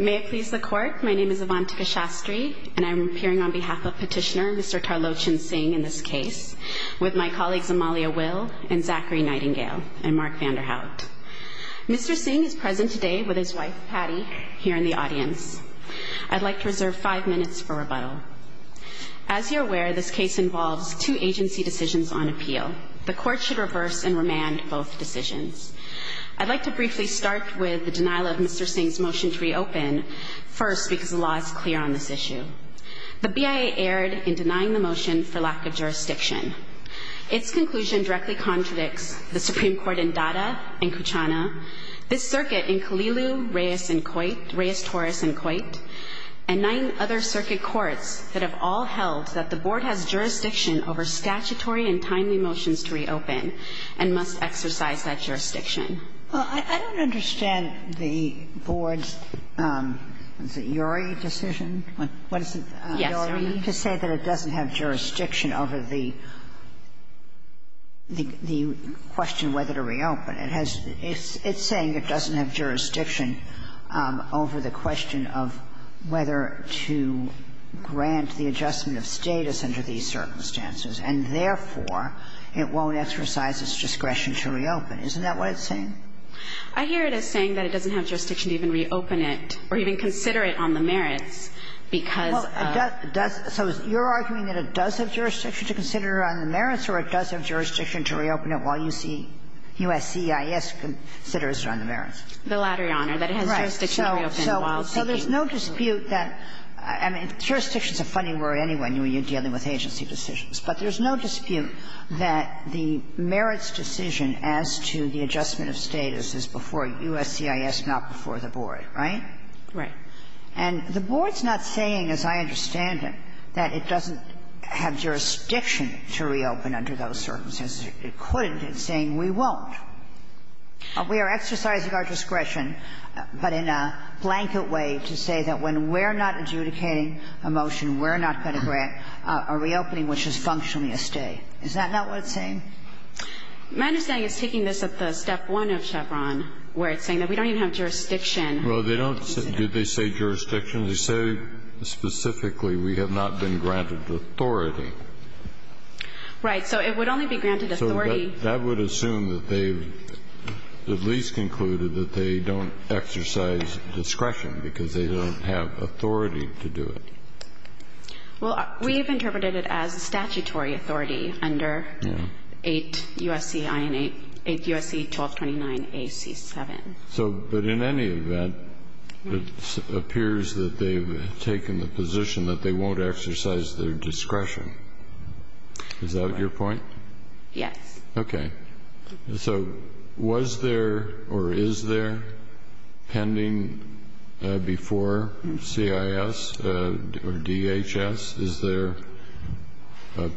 May it please the Court, my name is Avantika Shastri and I'm appearing on behalf of Petitioner Mr. Tarlochan Singh in this case, with my colleagues Amalia Will and Zachary Nightingale and Mark Vanderhout. Mr. Singh is present today with his wife, Patty, here in the audience. I'd like to reserve five minutes for rebuttal. As you're aware, this case involves two agency decisions on appeal. The Court should reverse and remand both decisions. I'd like to briefly start with the denial of Mr. Singh's motion to reopen, first because the law is clear on this issue. The BIA erred in denying the motion for lack of jurisdiction. Its conclusion directly contradicts the Supreme Court in Dada and Kuchana, this circuit in Kalilu, Reyes and Coit, Reyes-Torres and Coit, and nine other circuit courts that have all held that the Board has jurisdiction over statutory and timely motions to reopen and must exercise that jurisdiction. Well, I don't understand the Board's, what is it, URI decision? What is it, URI? Yes, Your Honor. To say that it doesn't have jurisdiction over the question whether to reopen. It has, it's saying it doesn't have jurisdiction over the question of whether to grant the adjustment of status under these circumstances, and therefore, it won't exercise its discretion to reopen. Isn't that what it's saying? I hear it as saying that it doesn't have jurisdiction to even reopen it or even consider it on the merits because of the merits. So you're arguing that it does have jurisdiction to consider it on the merits or it does have jurisdiction to reopen it while you see USCIS considers it on the merits? The latter, Your Honor, that it has jurisdiction to reopen while seeking. So there's no dispute that, I mean, jurisdiction is a funny word anyway when you're dealing with agency decisions, but there's no dispute that the merits decision as to the adjustment of status is before USCIS, not before the Board, right? Right. And the Board's not saying, as I understand it, that it doesn't have jurisdiction to reopen under those circumstances. It couldn't. It's saying we won't. We are exercising our discretion, but in a blanket way to say that when we're not adjudicating a motion, we're not going to grant a reopening which is functionally a stay. Is that not what it's saying? My understanding is taking this at the step one of Chevron, where it's saying that we don't even have jurisdiction. Well, they don't. Did they say jurisdiction? They say specifically we have not been granted authority. Right. So it would only be granted authority. So that would assume that they've at least concluded that they don't exercise discretion because they don't have authority to do it. Well, we have interpreted it as statutory authority under 8 U.S.C. 1229AC7. So, but in any event, it appears that they've taken the position that they won't exercise their discretion. Is that your point? Yes. Okay. So was there or is there pending before CIS or DHS? Is there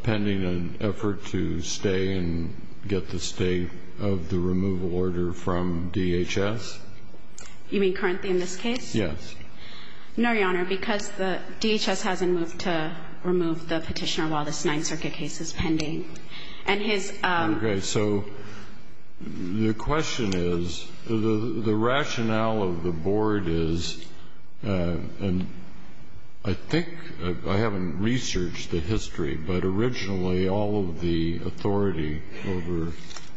pending an effort to stay and get the stay of the removal order from DHS? You mean currently in this case? Yes. No, Your Honor, because the DHS hasn't moved to remove the Petitioner while this Ninth Circuit case is pending. And his ---- Okay. So the question is, the rationale of the Board is, and I think I haven't researched the history, but originally all of the authority over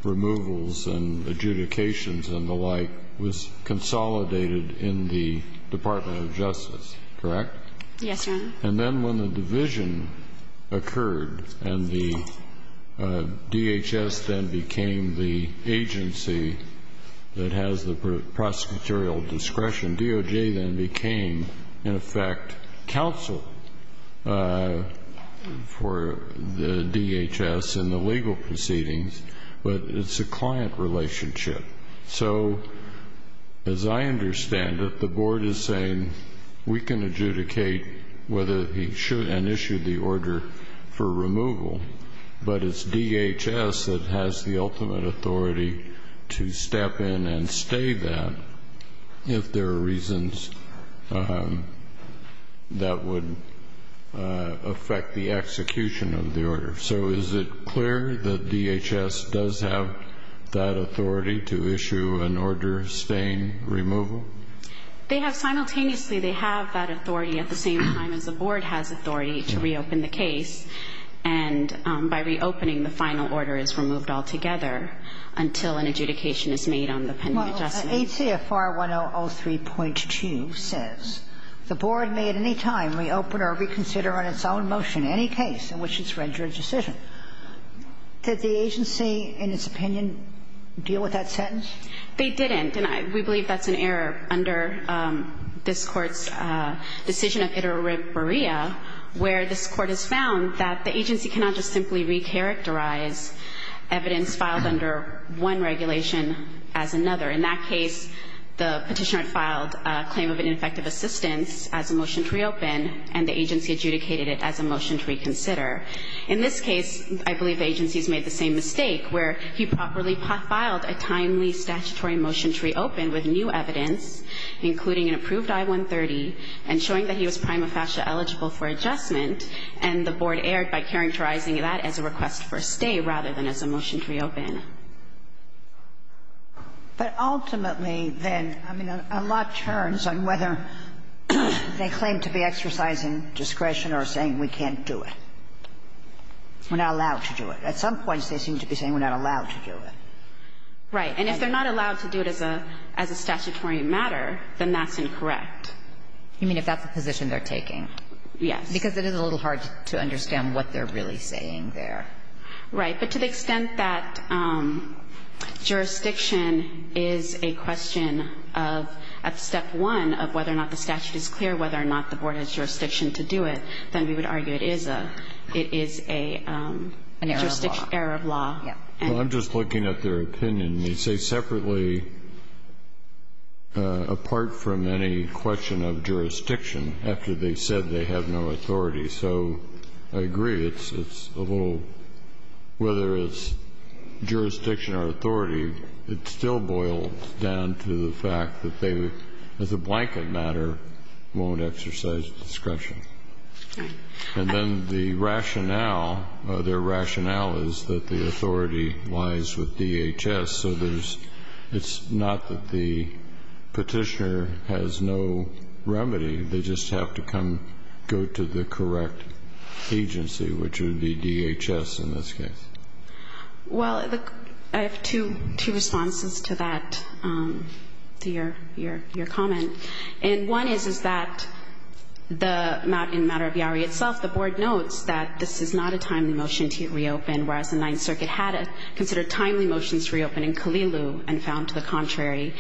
removals and adjudications and the like was consolidated in the Department of Justice, correct? Yes, Your Honor. And then when the division occurred and the DHS then became the agency that has the prosecutorial discretion, DOJ then became, in effect, counsel for the DHS in the legal proceedings, but it's a client relationship. So as I understand it, the Board is saying we can adjudicate whether he should and issue the order for removal, but it's DHS that has the ultimate authority to step in and stay that if there are reasons that would affect the execution of the order. So is it clear that DHS does have that authority to issue an order of staying removal? They have simultaneously. They have that authority at the same time as the Board has authority to reopen the case, and by reopening, the final order is removed altogether until an adjudication is made on the pending adjustment. Well, ACFR 1003.2 says, Did the agency, in its opinion, deal with that sentence? They didn't. And we believe that's an error under this Court's decision of iteriberea, where this Court has found that the agency cannot just simply recharacterize evidence filed under one regulation as another. In that case, the petitioner filed a claim of ineffective assistance as a motion to reopen, and the agency adjudicated it as a motion to reconsider. In this case, I believe the agencies made the same mistake, where he properly filed a timely statutory motion to reopen with new evidence, including an approved I-130, and showing that he was prima facie eligible for adjustment, and the Board erred by characterizing that as a request for a stay rather than as a motion to reopen. But ultimately, then, I mean, a lot turns on whether they claim to be exercising discretion or saying we can't do it, we're not allowed to do it. At some points, they seem to be saying we're not allowed to do it. Right. And if they're not allowed to do it as a statutory matter, then that's incorrect. You mean if that's the position they're taking? Yes. Because it is a little hard to understand what they're really saying there. Right. But to the extent that jurisdiction is a question of, at step one, of whether or not the statute is clear, whether or not the Board has jurisdiction to do it, then we would argue it is a jurisdiction error of law. Well, I'm just looking at their opinion. They say separately, apart from any question of jurisdiction, after they said they have no authority. So I agree. It's a little, whether it's jurisdiction or authority, it still boils down to the fact that they, as a blanket matter, won't exercise discretion. And then the rationale, their rationale is that the authority lies with DHS. So there's, it's not that the petitioner has no remedy. They just have to come, go to the correct agency, which would be DHS in this case. Well, I have two responses to that, to your comment. And one is, is that in the matter of Yowie itself, the Board notes that this is not a timely motion to reopen, whereas the Ninth Circuit had considered timely motions to reopen in Kalilu and found to the contrary.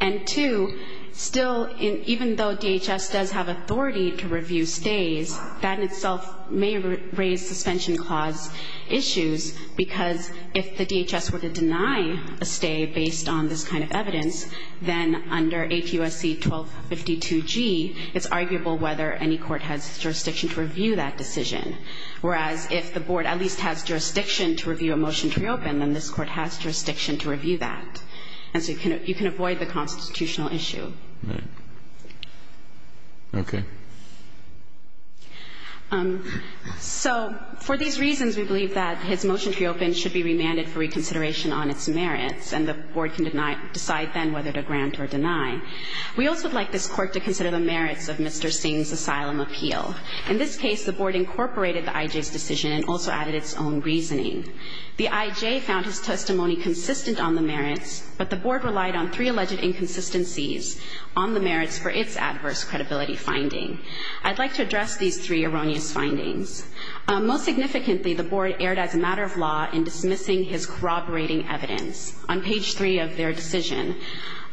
And two, still, even though DHS does have authority to review stays, that in itself may raise suspension clause issues, because if the DHS were to deny a stay based on this kind of evidence, then under ATUSC 1252G, it's arguable whether any court has jurisdiction to review that decision. Whereas if the Board at least has jurisdiction to review a motion to reopen, then this Court has jurisdiction to review that. And so you can avoid the constitutional issue. Right. Okay. So for these reasons, we believe that his motion to reopen should be remanded for reconsideration on its merits, and the Board can decide then whether to grant or deny. We also would like this Court to consider the merits of Mr. Singh's asylum appeal. In this case, the Board incorporated the IJ's decision and also added its own reasoning. The IJ found his testimony consistent on the merits, but the Board relied on three alleged inconsistencies on the merits for its adverse credibility finding. I'd like to address these three erroneous findings. Most significantly, the Board erred as a matter of law in dismissing his corroborating evidence. On page three of their decision,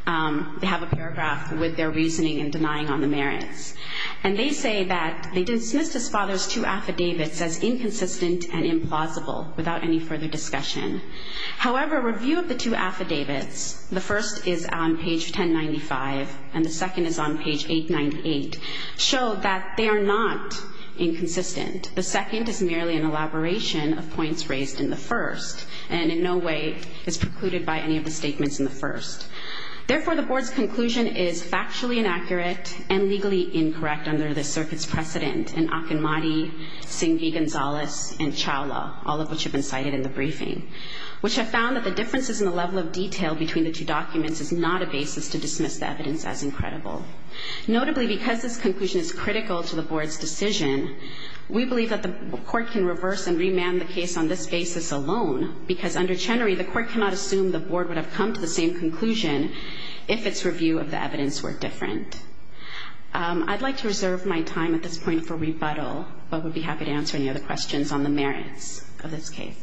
they have a paragraph with their reasoning and denying on the merits. And they say that they dismissed his father's two affidavits as inconsistent and implausible, without any further discussion. However, a review of the two affidavits, the first is on page 1095, and the second is on page 898, show that they are not inconsistent. The second is merely an elaboration of points raised in the first, and in no way is precluded by any of the statements in the first. Therefore, the Board's conclusion is factually inaccurate and legally incorrect under the circuit's precedent in Akinmati, Singh V. Gonzalez, and Chawla, all of which have been cited in the briefing, which have found that the differences in the level of detail between the two documents is not a basis to dismiss the evidence as incredible. Notably, because this conclusion is critical to the Board's decision, we believe that the Court can reverse and remand the case on this basis alone, because under Chenery, the Court cannot assume the Board would have come to the same conclusion if its review of the evidence were different. I'd like to reserve my time at this point for rebuttal, but would be happy to answer any other questions on the merits of this case.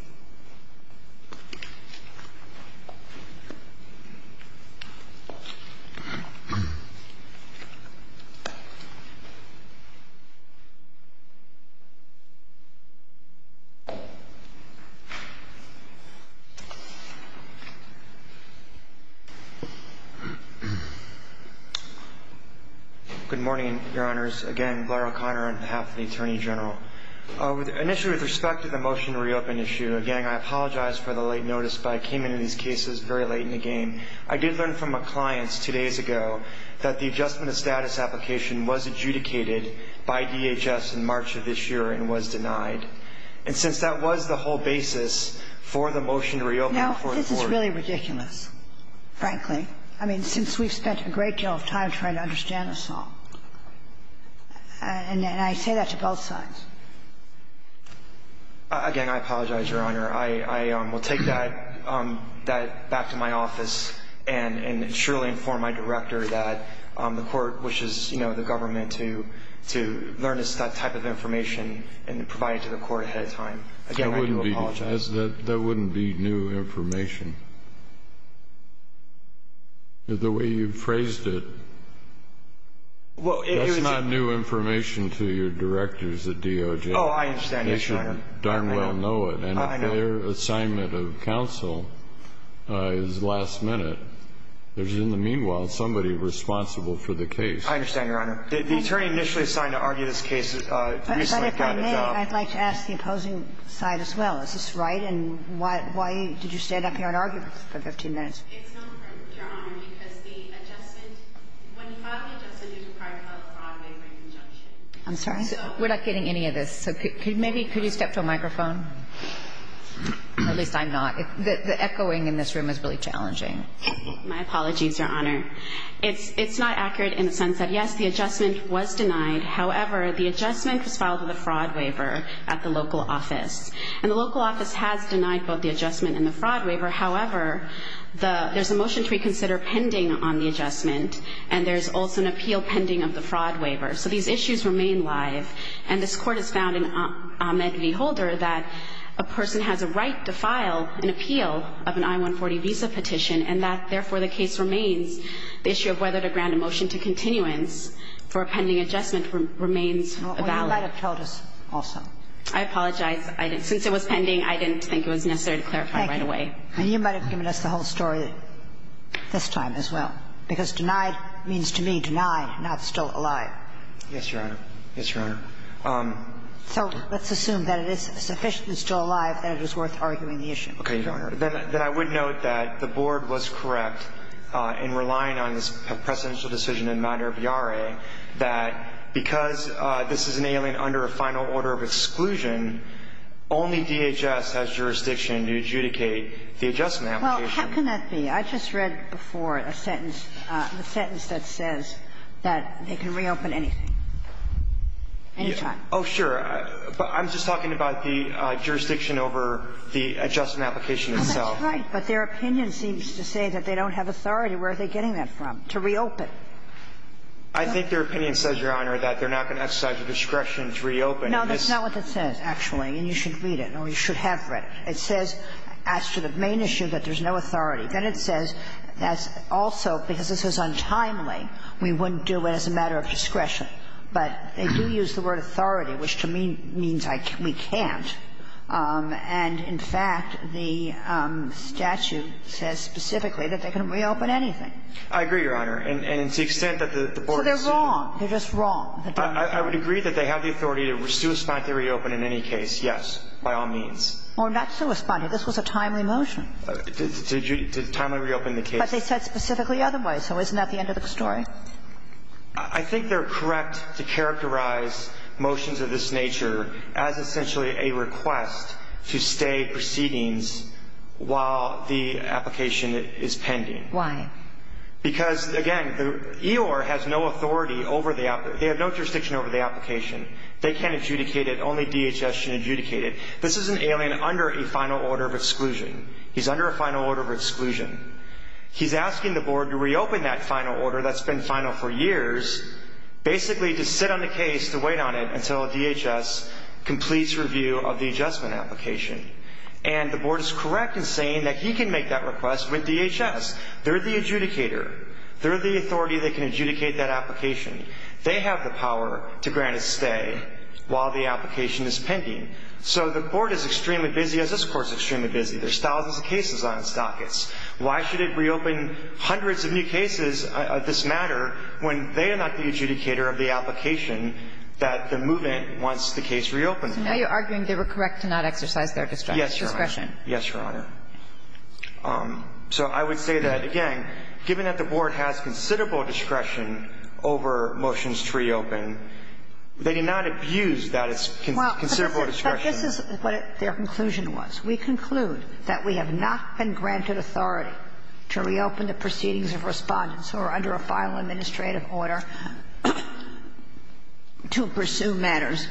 Good morning, Your Honors. Again, Blair O'Connor on behalf of the Attorney General. Initially, with respect to the motion to reopen issue, again, I apologize for the late notice, but I came into these cases very late in the game. I did learn from my clients two days ago that the adjustment of status application was adjudicated by DHS in March of this year and was denied. And since that was the whole basis for the motion to reopen before the Court of Appeals Now, this is really ridiculous, frankly, I mean, since we've spent a great deal of time trying to understand this all. And I say that to both sides. Again, I apologize, Your Honor. I will take that back to my office and surely inform my director that the Court wishes, you know, the government to learn this type of information and provide it to the Court ahead of time. Again, I do apologize. That wouldn't be new information. The way you phrased it. That's not new information to your directors at DOJ. Oh, I understand, Your Honor. They should darn well know it. I know. And if their assignment of counsel is last minute, there's in the meanwhile somebody responsible for the case. I understand, Your Honor. The Attorney initially assigned to argue this case recently got a job. But if I may, I'd like to ask the opposing side as well. Is this right? And why did you stand up here and argue for 15 minutes? It's not correct, Your Honor, because the adjustment. When you file the adjustment, you require a fraud waiver injunction. I'm sorry? We're not getting any of this. So maybe could you step to a microphone? At least I'm not. The echoing in this room is really challenging. My apologies, Your Honor. It's not accurate in the sense that, yes, the adjustment was denied. However, the adjustment was filed with a fraud waiver at the local office. And the local office has denied both the adjustment and the fraud waiver. However, there's a motion to reconsider pending on the adjustment. And there's also an appeal pending of the fraud waiver. So these issues remain live. And this Court has found in Ahmed v. Holder that a person has a right to file an appeal of an I-140 visa petition, and that, therefore, the case remains. The issue of whether to grant a motion to continuance for a pending adjustment remains valid. Well, you might have told us also. I apologize. Since it was pending, I didn't think it was necessary to clarify right away. And you might have given us the whole story this time as well. Because denied means, to me, denied, not still alive. Yes, Your Honor. Yes, Your Honor. So let's assume that it is sufficiently still alive that it is worth arguing the issue. Okay, Your Honor. Then I would note that the Board was correct in relying on this precedential decision in minor viare that because this is an alien under a final order of exclusion, only DHS has jurisdiction to adjudicate the adjustment application. Well, how can that be? I just read before a sentence, the sentence that says that they can reopen anything, any time. Oh, sure. But I'm just talking about the jurisdiction over the adjustment application itself. Oh, that's right. But their opinion seems to say that they don't have authority. Where are they getting that from, to reopen? I think their opinion says, Your Honor, that they're not going to exercise the discretion to reopen. No, that's not what it says, actually. And you should read it, or you should have read it. It says, as to the main issue, that there's no authority. Then it says that also, because this is untimely, we wouldn't do it as a matter of discretion. But they do use the word authority, which, to me, means we can't. And, in fact, the statute says specifically that they can reopen anything. I agree, Your Honor. And to the extent that the Board has seen you So they're wrong. They're just wrong. I would agree that they have the authority to sui sponte reopen in any case, yes, by all means. Or not sui sponte. This was a timely motion. To timely reopen the case. But they said specifically otherwise. So isn't that the end of the story? I think they're correct to characterize motions of this nature as essentially a request to stay proceedings while the application is pending. Why? Because, again, the EOR has no authority over the application. They have no jurisdiction over the application. They can't adjudicate it. Only DHS can adjudicate it. This is an alien under a final order of exclusion. He's under a final order of exclusion. He's asking the Board to reopen that final order that's been final for years, basically to sit on the case to wait on it until DHS completes review of the adjustment application. And the Board is correct in saying that he can make that request with DHS. They're the adjudicator. They're the authority that can adjudicate that application. They have the power to grant a stay while the application is pending. So the Court is extremely busy, as this Court is extremely busy. There's thousands of cases on its dockets. Why should it reopen hundreds of new cases of this matter when they are not the adjudicator of the application that the movement wants the case reopened? So now you're arguing they were correct to not exercise their discretion. Yes, Your Honor. Yes, Your Honor. So I would say that, again, given that the Board has considerable discretion over motions to reopen, they did not abuse that considerable discretion. But this is what their conclusion was. We conclude that we have not been granted authority to reopen the proceedings of Respondents who are under a final administrative order to pursue matters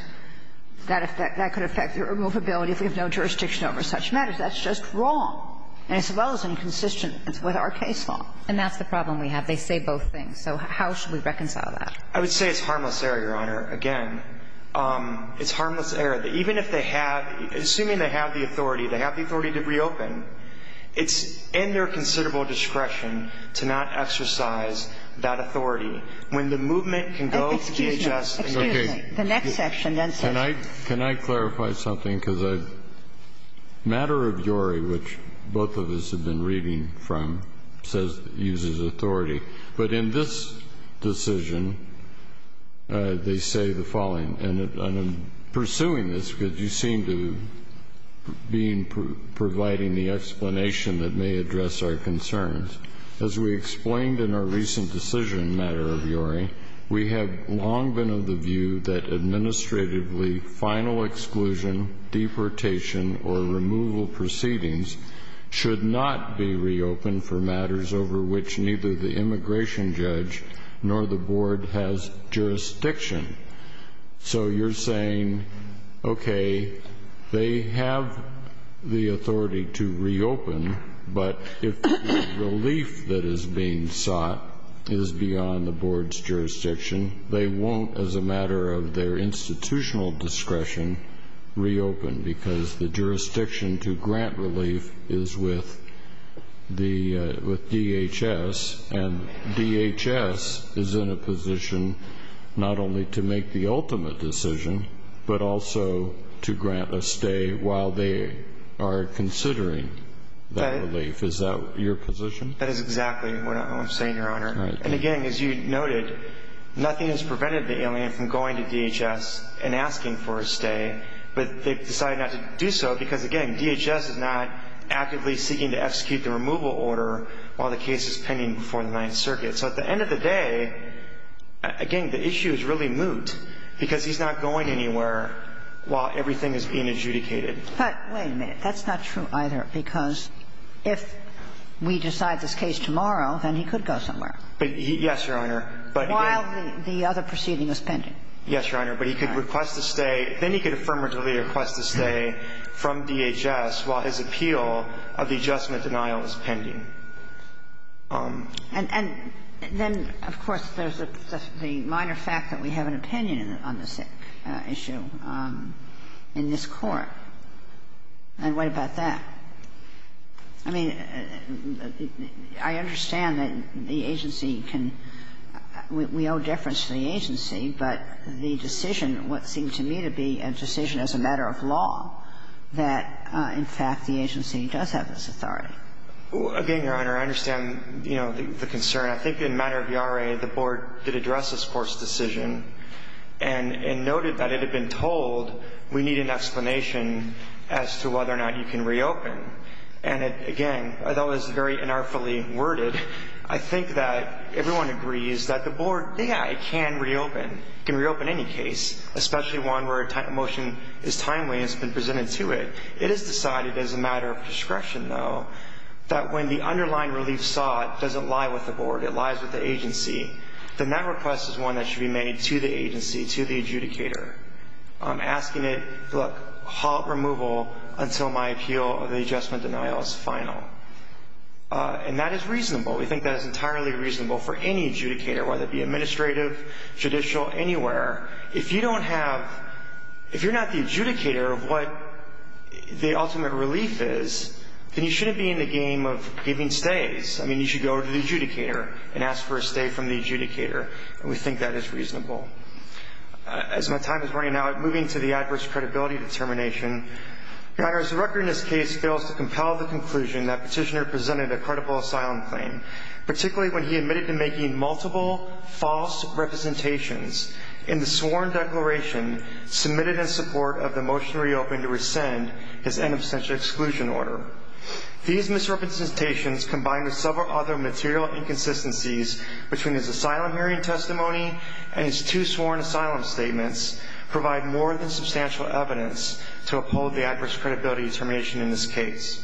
that could affect their movability if we have no jurisdiction over such matters. That's just wrong, as well as inconsistent with our case law. And that's the problem we have. They say both things. So how should we reconcile that? I would say it's harmless error, Your Honor, again. It's harmless error. Even if they have, assuming they have the authority, they have the authority to reopen, it's in their considerable discretion to not exercise that authority. Excuse me. Excuse me. Can I clarify something? Because matter of URI, which both of us have been reading from, says it uses authority. But in this decision, they say the following. And I'm pursuing this because you seem to be providing the explanation that may address our concerns. As we explained in our recent decision, matter of URI, we have long been of the view that administratively, final exclusion, deportation, or removal proceedings should not be reopened for matters over which neither the immigration judge nor the board has jurisdiction. So you're saying, okay, they have the authority to reopen, but if the relief that they have, as a matter of their institutional discretion, reopen because the jurisdiction to grant relief is with DHS, and DHS is in a position not only to make the ultimate decision, but also to grant a stay while they are considering that relief. Is that your position? That is exactly what I'm saying, Your Honor. And again, as you noted, nothing has prevented the alien from going to DHS and asking for a stay, but they've decided not to do so because, again, DHS is not actively seeking to execute the removal order while the case is pending before the Ninth Circuit. So at the end of the day, again, the issue is really moot because he's not going anywhere while everything is being adjudicated. But wait a minute. That's not true either because if we decide this case tomorrow, then he could go somewhere. Yes, Your Honor. While the other proceeding is pending. Yes, Your Honor. But he could request a stay. Then he could affirmatively request a stay from DHS while his appeal of the adjustment denial is pending. And then, of course, there's the minor fact that we have an opinion on this issue in this Court. And what about that? I mean, I understand that the agency can — we owe deference to the agency, but the decision, what seemed to me to be a decision as a matter of law, that, in fact, the agency does have this authority. Again, Your Honor, I understand, you know, the concern. I think in matter of the RA, the Board did address this Court's decision and noted that it had been told we need an explanation as to whether or not you can reopen. And it, again, although it's very unartfully worded, I think that everyone agrees that the Board, yeah, it can reopen. It can reopen any case, especially one where a motion is timely and it's been presented to it. It is decided as a matter of discretion, though, that when the underlying relief sought doesn't lie with the Board. It lies with the agency. Then that request is one that should be made to the agency, to the adjudicator, asking it, look, halt removal until my appeal or the adjustment denial is final. And that is reasonable. We think that is entirely reasonable for any adjudicator, whether it be administrative, judicial, anywhere. If you don't have — if you're not the adjudicator of what the ultimate relief is, then you shouldn't be in the game of giving stays. I mean, you should go to the adjudicator and ask for a stay from the adjudicator. And we think that is reasonable. As my time is running out, moving to the adverse credibility determination. Your Honor, as the record in this case fails to compel the conclusion that petitioner presented a credible asylum claim, particularly when he admitted to making multiple false representations in the sworn declaration submitted in support of the motion to reopen to rescind his These misrepresentations, combined with several other material inconsistencies between his asylum hearing testimony and his two sworn asylum statements, provide more than substantial evidence to uphold the adverse credibility determination in this case.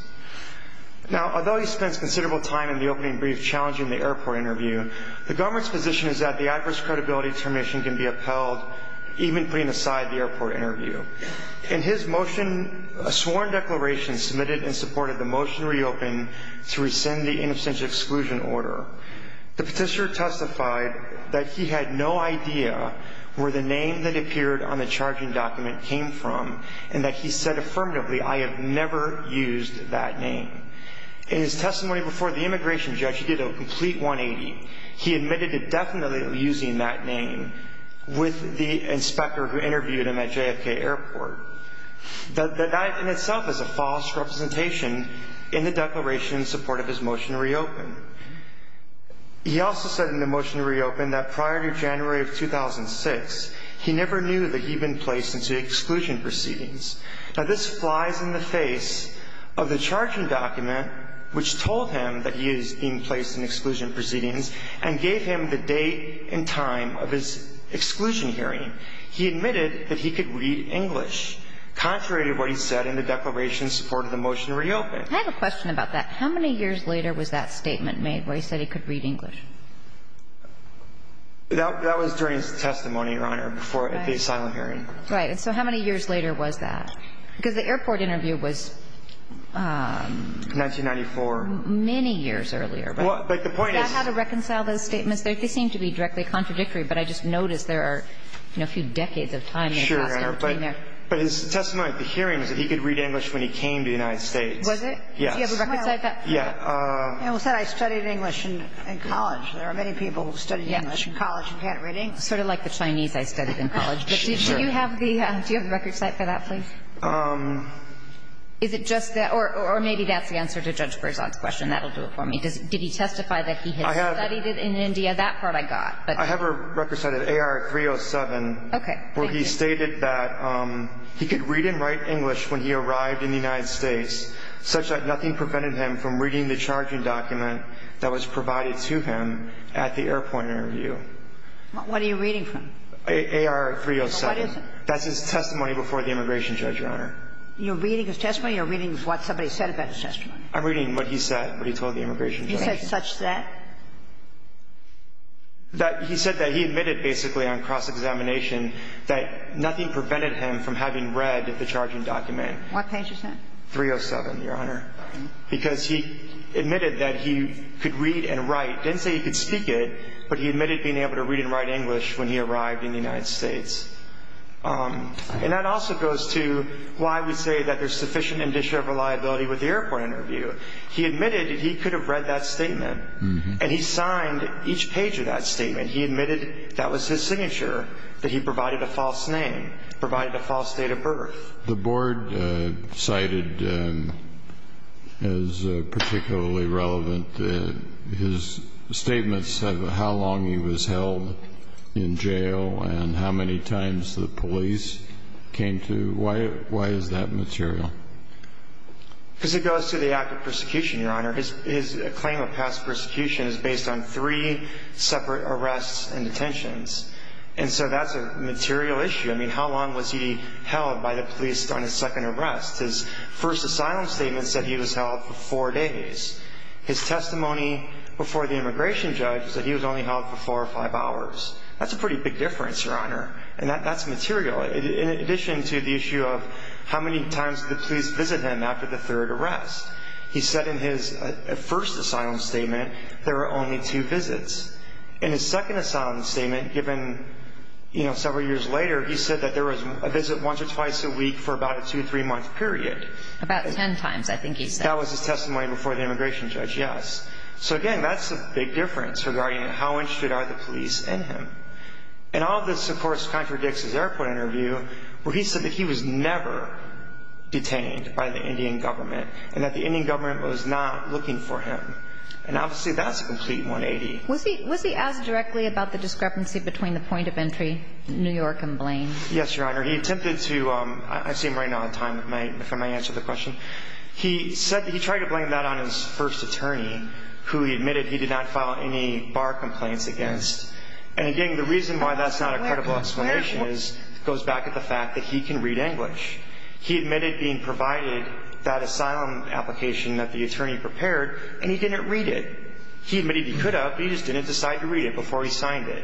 Now, although he spends considerable time in the opening brief challenging the airport interview, the government's position is that the adverse credibility determination can be upheld even putting aside the airport interview. In his motion, a sworn declaration submitted in support of the motion to reopen to rescind the inobstantial exclusion order, the petitioner testified that he had no idea where the name that appeared on the charging document came from and that he said affirmatively, I have never used that name. In his testimony before the immigration judge, he did a complete 180. He admitted to definitely using that name with the inspector who interviewed him at JFK Airport. That in itself is a false representation in the declaration in support of his motion to reopen. He also said in the motion to reopen that prior to January of 2006, he never knew that he'd been placed into exclusion proceedings. Now, this flies in the face of the charging document, which told him that he is being placed into exclusion proceedings and gave him the date and time of his exclusion hearing. He admitted that he could read English, contrary to what he said in the declaration in support of the motion to reopen. I have a question about that. How many years later was that statement made where he said he could read English? That was during his testimony, Your Honor, before the asylum hearing. Right. And so how many years later was that? Because the airport interview was... 1994. Many years earlier. But the point is... Is that how to reconcile those statements? They seem to be directly contradictory, but I just noticed there are, you know, a few decades of time in the past in between there. Sure, Your Honor. But his testimony at the hearing is that he could read English when he came to the United States. Was it? Yes. Do you have a record site for that? Yeah. It was that I studied English in college. There are many people who studied English in college and can't read English. Yes. Sort of like the Chinese I studied in college. Sure. But do you have the record site for that, please? Is it just that? Or maybe that's the answer to Judge Berzon's question. That'll do it for me. Did he testify that he had studied it in India? That part I got. I have a record site at AR-307... Okay. ...where he stated that he could read and write English when he arrived in the United States, such that nothing prevented him from reading the charging document that was provided to him at the airport interview. What are you reading from? AR-307. That's his testimony before the immigration judge. Yes, Your Honor. You're reading his testimony or you're reading what somebody said about his testimony? I'm reading what he said, what he told the immigration judge. He said such that? He said that he admitted basically on cross-examination that nothing prevented him from having read the charging document. What page is that? 307, Your Honor, because he admitted that he could read and write. He didn't say he could speak it, but he admitted being able to read and write English when he arrived in the United States. And that also goes to why we say that there's sufficient indicia of reliability with the airport interview. He admitted that he could have read that statement, and he signed each page of that statement. He admitted that was his signature, that he provided a false name, provided a false date of birth. The board cited as particularly relevant his statements of how long he was held in jail and how many times the police came to him. Why is that material? Because it goes to the act of persecution, Your Honor. His claim of past persecution is based on three separate arrests and detentions. And so that's a material issue. I mean, how long was he held by the police on his second arrest? His first asylum statement said he was held for four days. His testimony before the immigration judge said he was only held for four or five hours. That's a pretty big difference, Your Honor. And that's material. In addition to the issue of how many times the police visited him after the third arrest, he said in his first asylum statement there were only two visits. In his second asylum statement, given several years later, he said that there was a visit once or twice a week for about a two-, three-month period. About ten times, I think he said. That was his testimony before the immigration judge, yes. So, again, that's a big difference regarding how interested are the police in him. And all this, of course, contradicts his airport interview where he said that he was never detained by the Indian government and that the Indian government was not looking for him. And obviously that's a complete 180. Was he asked directly about the discrepancy between the point of entry, New York, and Blaine? Yes, Your Honor. He attempted toóI see him right now on time if I may answer the question. He said that he tried to blame that on his first attorney who he admitted he did not file any bar complaints against. And, again, the reason why that's not a credible explanation goes back to the fact that he can read English. He admitted being provided that asylum application that the attorney prepared, and he didn't read it. He admitted he could have, but he just didn't decide to read it before he signed it.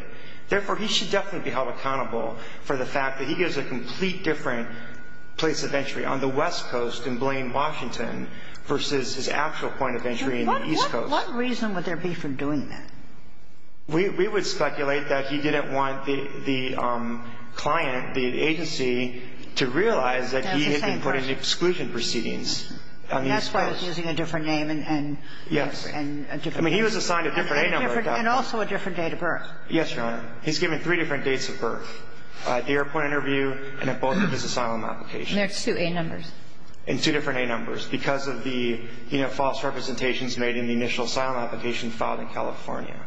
Therefore, he should definitely be held accountable for the fact that he gives a complete different place of entry on the West Coast than Blaine Washington versus his actual point of entry in the East Coast. What reason would there be for doing that? We would speculate that he didn't want the client, the agency, to realize that he had been put in exclusion proceedings on the East Coast. That's why he's using a different name and a different date of birth. Yes. I mean, he was assigned a different A number. And also a different date of birth. Yes, Your Honor. He's given three different dates of birth, at the airport interview and at both of his asylum applications. And there are two A numbers. And two different A numbers because of the, you know, false representations made in the initial asylum application filed in California.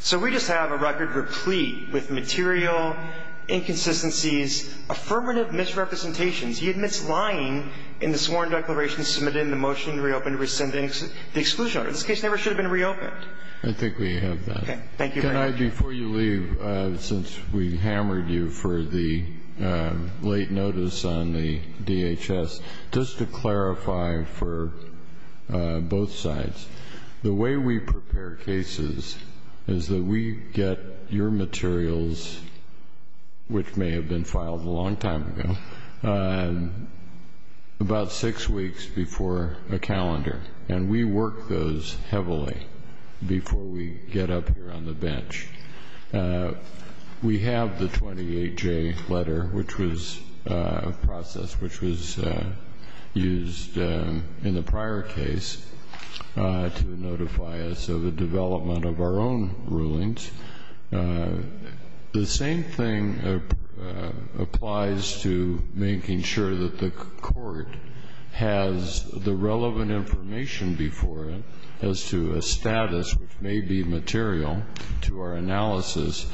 So we just have a record replete with material inconsistencies, affirmative misrepresentations. He admits lying in the sworn declaration submitted in the motion to reopen to rescind the exclusion order. This case never should have been reopened. I think we have that. Okay. Thank you, Your Honor. Your Honor, before you leave, since we hammered you for the late notice on the DHS, just to clarify for both sides, the way we prepare cases is that we get your materials, which may have been filed a long time ago, about six weeks before a calendar. And we work those heavily before we get up here on the bench. We have the 28-J letter, which was a process which was used in the prior case to notify us of the development of our own rulings. The same thing applies to making sure that the court has the relevant information before it as to a status which may be material to our analysis,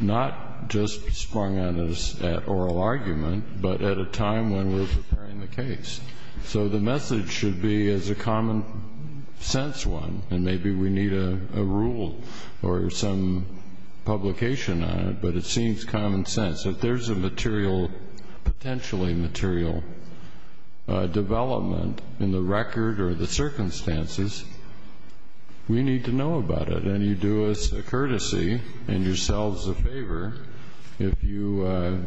not just sprung on us at oral argument, but at a time when we're preparing the case. So the message should be, as a common-sense one, and maybe we need a rule or some publication on it, but it seems common sense, if there's a potentially material development in the record or the circumstances, we need to know about it. And you do us a courtesy and yourselves a favor if you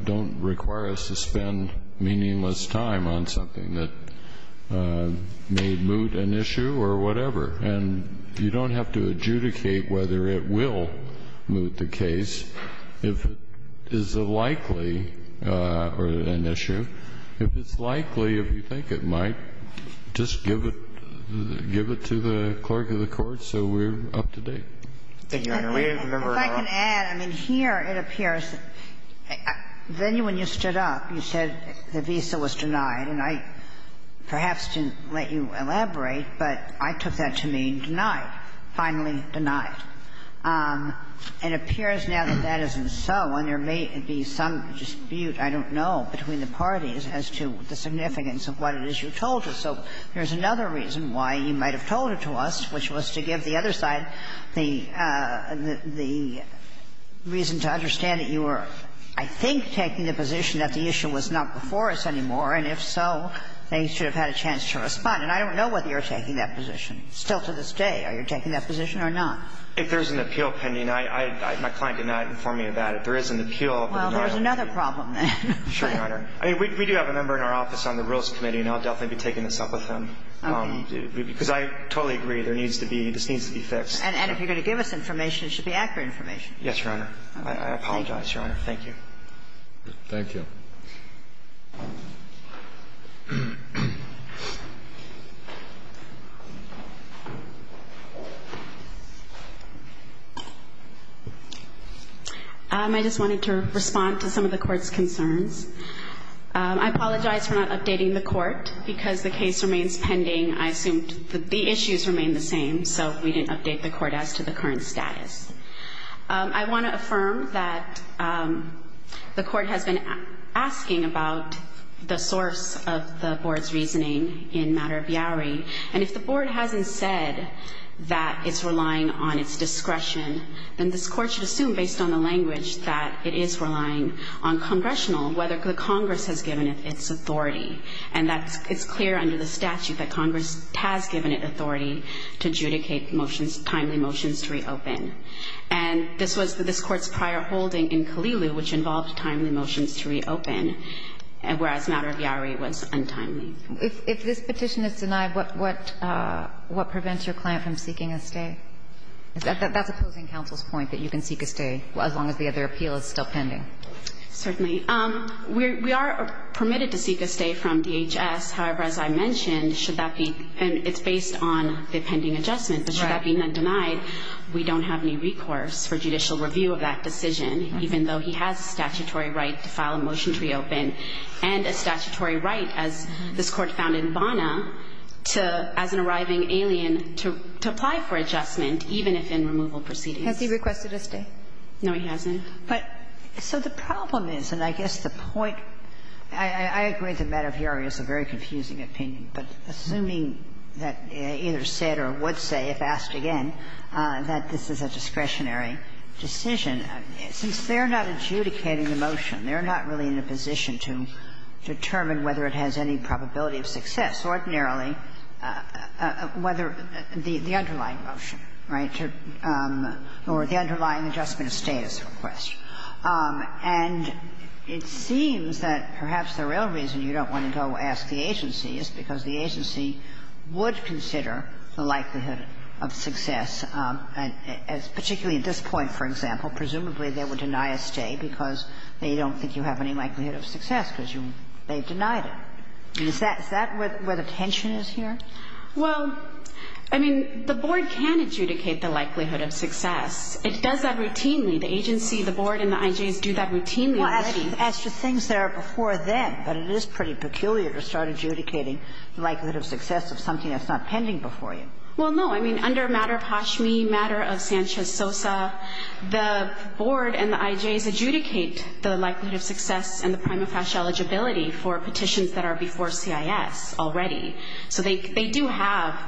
don't require us to spend meaningless time on something that may moot an issue or whatever. And you don't have to adjudicate whether it will moot the case. If it is a likely or an issue, if it's likely, if you think it might, just give it to the clerk of the court so we're up to date. Thank you, Your Honor. We remember our own. If I can add, I mean, here it appears that then when you stood up, you said the visa was denied, and I perhaps didn't let you elaborate, but I took that to mean denied, finally denied. It appears now that that isn't so, and there may be some dispute, I don't know, between the parties as to the significance of what it is you told us. So there's another reason why you might have told it to us, which was to give the other side the reason to understand that you were, I think, taking the position that the issue was not before us anymore, and if so, they should have had a chance to respond. And I don't know whether you're taking that position still to this day. Are you taking that position or not? If there's an appeal pending, my client did not inform me about it. There is an appeal. Well, there's another problem then. Sure, Your Honor. I mean, we do have a member in our office on the Rules Committee, and I'll definitely be taking this up with him. Okay. Because I totally agree. There needs to be, this needs to be fixed. And if you're going to give us information, it should be accurate information. Yes, Your Honor. I apologize, Your Honor. Thank you. Thank you. I just wanted to respond to some of the Court's concerns. I apologize for not updating the Court, because the case remains pending. I assumed that the issues remained the same, so we didn't update the Court as to the current status. I want to affirm that the Court has been asking about the source of the Board's reasoning in matter of Biari. And if the Board hasn't said that it's relying on its discretion, then this Court should assume, based on the language, that it is relying on Congressional, whether the Congress has given it its authority. And that it's clear under the statute that Congress has given it authority to adjudicate motions, timely motions to reopen. And this was this Court's prior holding in Kalilu, which involved timely motions to reopen, whereas matter of Biari was untimely. If this petition is denied, what prevents your client from seeking a stay? That's opposing counsel's point, that you can seek a stay as long as the other appeal is still pending. Certainly. We are permitted to seek a stay from DHS. However, as I mentioned, should that be, and it's based on the pending adjustment. Right. Should that be then denied, we don't have any recourse for judicial review of that decision, even though he has statutory right to file a motion to reopen and a statutory right, as this Court found in Bona, to, as an arriving alien, to apply for adjustment, even if in removal proceedings. Has he requested a stay? No, he hasn't. But so the problem is, and I guess the point, I agree that matter of Biari is a very discretionary decision. Since they're not adjudicating the motion, they're not really in a position to determine whether it has any probability of success. Ordinarily, whether the underlying motion, right, or the underlying adjustment of status request. And it seems that perhaps the real reason you don't want to go ask the agency is because the agency would consider the likelihood of success, particularly at this point, for example. Presumably they would deny a stay because they don't think you have any likelihood of success, because they've denied it. Is that where the tension is here? Well, I mean, the Board can adjudicate the likelihood of success. It does that routinely. The agency, the Board, and the IJs do that routinely already. Well, as to things that are before them. But it is pretty peculiar to start adjudicating the likelihood of success of something that's not pending before you. Well, no. I mean, under matter of Hashmi, matter of Sanchez-Sosa, the Board and the IJs adjudicate the likelihood of success and the prima facie eligibility for petitions that are before CIS already. So they do have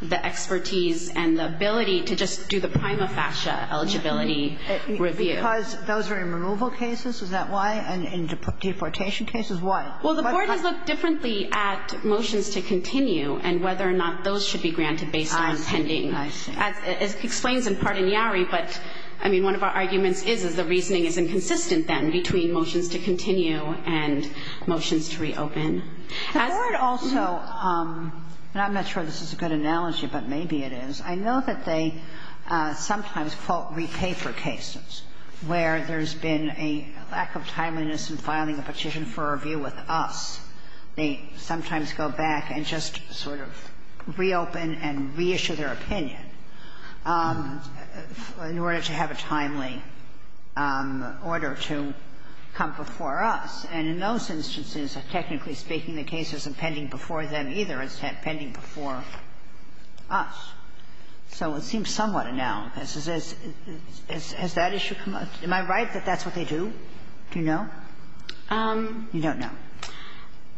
the expertise and the ability to just do the prima facie eligibility review. Because those are in removal cases. Is that why? In deportation cases? Why? Well, the Board has looked differently at motions to continue and whether or not those should be granted based on pending. I see. As it explains in part in Yarry, but, I mean, one of our arguments is, is the reasoning is inconsistent then between motions to continue and motions to reopen. The Board also, and I'm not sure this is a good analogy, but maybe it is, I know that they sometimes fault repay for cases where there's been a lack of timeliness in filing a petition for review with us. They sometimes go back and just sort of reopen and reissue their opinion in order to have a timely order to come before us. And in those instances, technically speaking, the case isn't pending before them either. It's pending before us. So it seems somewhat a noun. Has that issue come up? Am I right that that's what they do? Do you know? You don't know.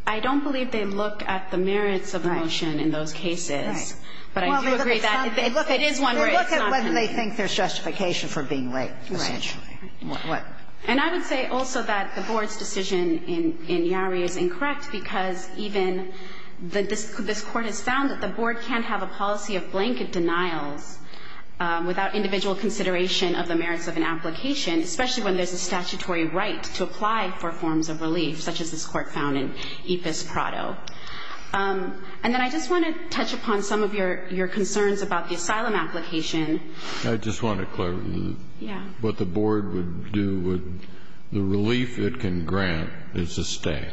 I don't believe they look at the merits of the motion in those cases. Right. But I do agree that it is one where it's not pending. They look at whether they think there's justification for being late, essentially. Right. And I would say also that the Board's decision in Yarry is incorrect because even this Court has found that the Board can't have a policy of blanket denials without individual consideration of the merits of an application, especially when there's a statutory right to apply for forms of relief, such as this Court found in Epus Prado. And then I just want to touch upon some of your concerns about the asylum application. I just want to clarify what the Board would do. The relief it can grant is a stay.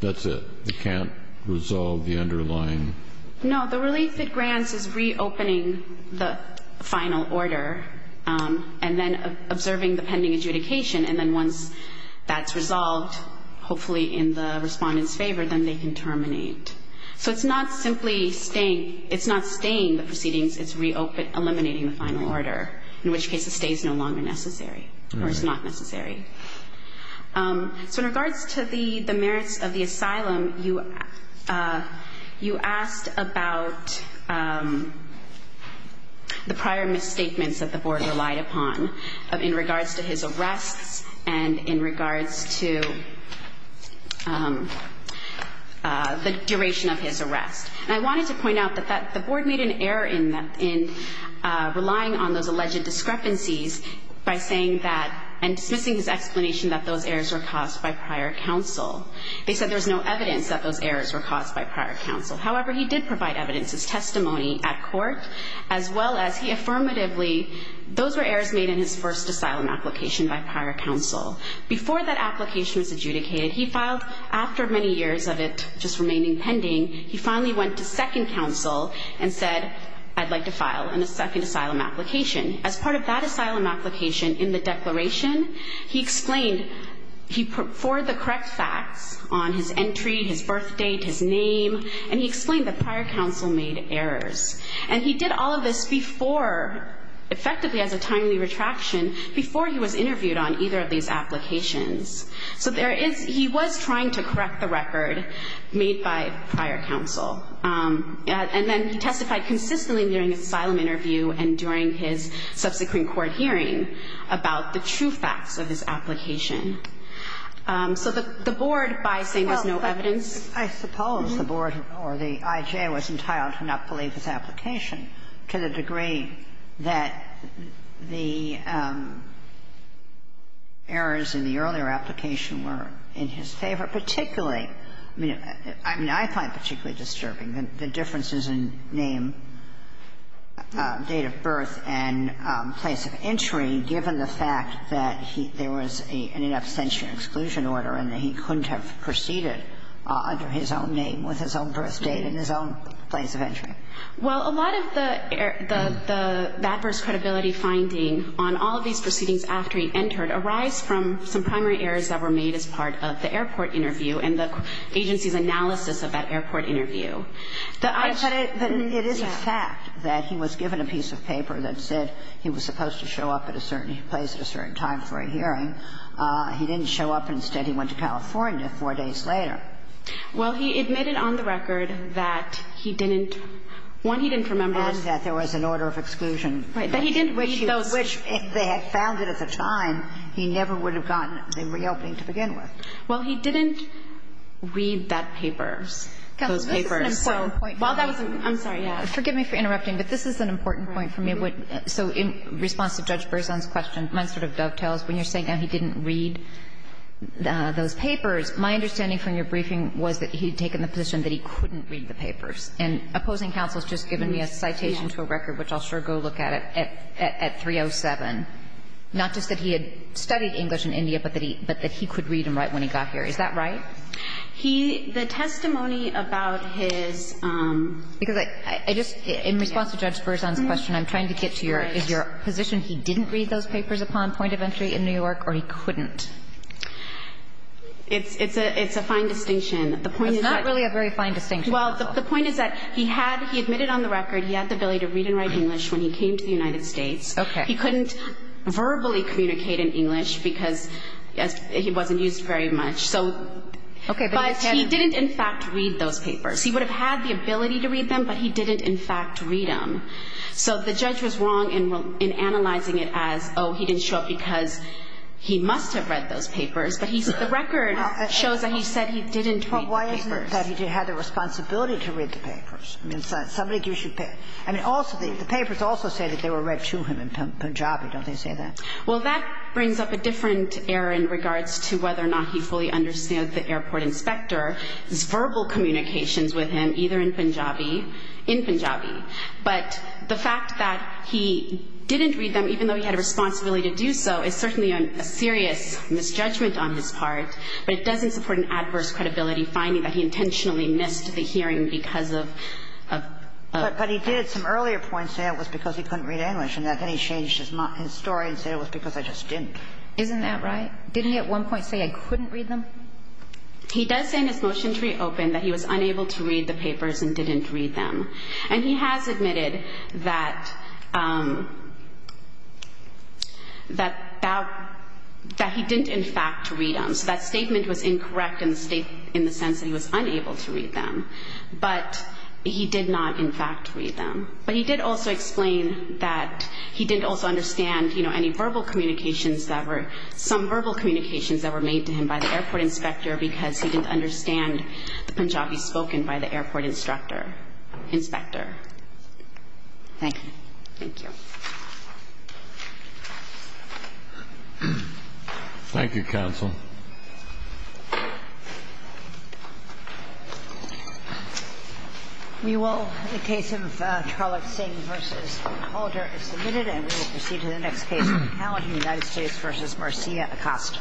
That's it. It can't resolve the underlying? No. The relief it grants is reopening the final order and then observing the pending adjudication, and then once that's resolved, hopefully in the respondent's favor, then they can terminate. So it's not simply staying. It's not staying the proceedings. It's eliminating the final order, in which case a stay is no longer necessary, or it's not necessary. So in regards to the merits of the asylum, you asked about the prior misstatements that the Board relied upon in regards to his arrests and in regards to the duration of his arrest. And I wanted to point out that the Board made an error in relying on those alleged discrepancies by saying that and dismissing his explanation that those errors were caused by prior counsel. They said there was no evidence that those errors were caused by prior counsel. However, he did provide evidence as testimony at court, as well as he affirmatively, those were errors made in his first asylum application by prior counsel. Before that application was adjudicated, he filed after many years of it just remaining pending, he finally went to second counsel and said, I'd like to file a second asylum application. As part of that asylum application in the declaration, he explained, he put forward the correct facts on his entry, his birth date, his name, and he explained that prior counsel made errors. And he did all of this before, effectively as a timely retraction, before he was interviewed on either of these applications. So there is, he was trying to correct the record made by prior counsel. And then he testified consistently during his asylum interview and during his subsequent court hearing about the true facts of his application. So the Board, by saying there's no evidence. I suppose the Board or the IJA was entitled to not believe his application to the degree that the errors in the earlier application were in his favor, But particularly, I mean, I find particularly disturbing the differences in name, date of birth, and place of entry, given the fact that there was an abstention exclusion order and that he couldn't have proceeded under his own name with his own birth date and his own place of entry. Well, a lot of the adverse credibility finding on all of these proceedings after he entered arise from some primary errors that were made as part of the airport interview and the agency's analysis of that airport interview. But it is a fact that he was given a piece of paper that said he was supposed to show up at a certain place at a certain time for a hearing. He didn't show up. Instead, he went to California four days later. Well, he admitted on the record that he didn't, one, he didn't remember. And that there was an order of exclusion. Right. But he didn't read those. Which they had found it at the time. He never would have gotten the reopening to begin with. Well, he didn't read that papers, those papers. Counsel, this is an important point. Well, that was an important point. I'm sorry. Yeah. Forgive me for interrupting, but this is an important point for me. So in response to Judge Berzon's question, mine sort of dovetails. When you're saying he didn't read those papers, my understanding from your briefing was that he had taken the position that he couldn't read the papers. And opposing counsel has just given me a citation to a record, which I'll sure go look at, at 307, not just that he had studied English in India, but that he could read and write when he got here. Is that right? He, the testimony about his. Because I, I just, in response to Judge Berzon's question, I'm trying to get to your, is your position he didn't read those papers upon point of entry in New York or he couldn't? It's, it's a, it's a fine distinction. The point is that. It's not really a very fine distinction. Well, the point is that he had, he admitted on the record he had the ability to read and write English when he came to the United States. Okay. He couldn't verbally communicate in English because he wasn't used very much. So. Okay. But he didn't in fact read those papers. He would have had the ability to read them, but he didn't in fact read them. So the judge was wrong in, in analyzing it as, oh, he didn't show up because he must have read those papers, but he's, the record shows that he said he didn't read the papers. Well, why isn't it that he had the responsibility to read the papers? I mean, somebody gives you papers. I mean, also the, the papers also say that they were read to him in Punjabi. Don't they say that? Well, that brings up a different error in regards to whether or not he fully understood the airport inspector's verbal communications with him, either in Punjabi, in Punjabi. But the fact that he didn't read them, even though he had a responsibility to do so, is certainly a serious misjudgment on his part, but it doesn't support of, of. But he did at some earlier points say it was because he couldn't read English, and then he changed his story and said it was because I just didn't. Isn't that right? Didn't he at one point say I couldn't read them? He does say in his motion to reopen that he was unable to read the papers and didn't read them. And he has admitted that, that, that he didn't in fact read them. So that statement was incorrect in the sense that he was unable to read them. But he did not in fact read them. But he did also explain that he didn't also understand, you know, any verbal communications that were, some verbal communications that were made to him by the airport inspector because he didn't understand the Punjabi spoken by the airport instructor, inspector. Thank you. Thank you. Thank you, counsel. We will, in the case of Charlotte Singh v. Calder is submitted, and we will proceed to the next case. We're now in the United States v. Marcia Acosta.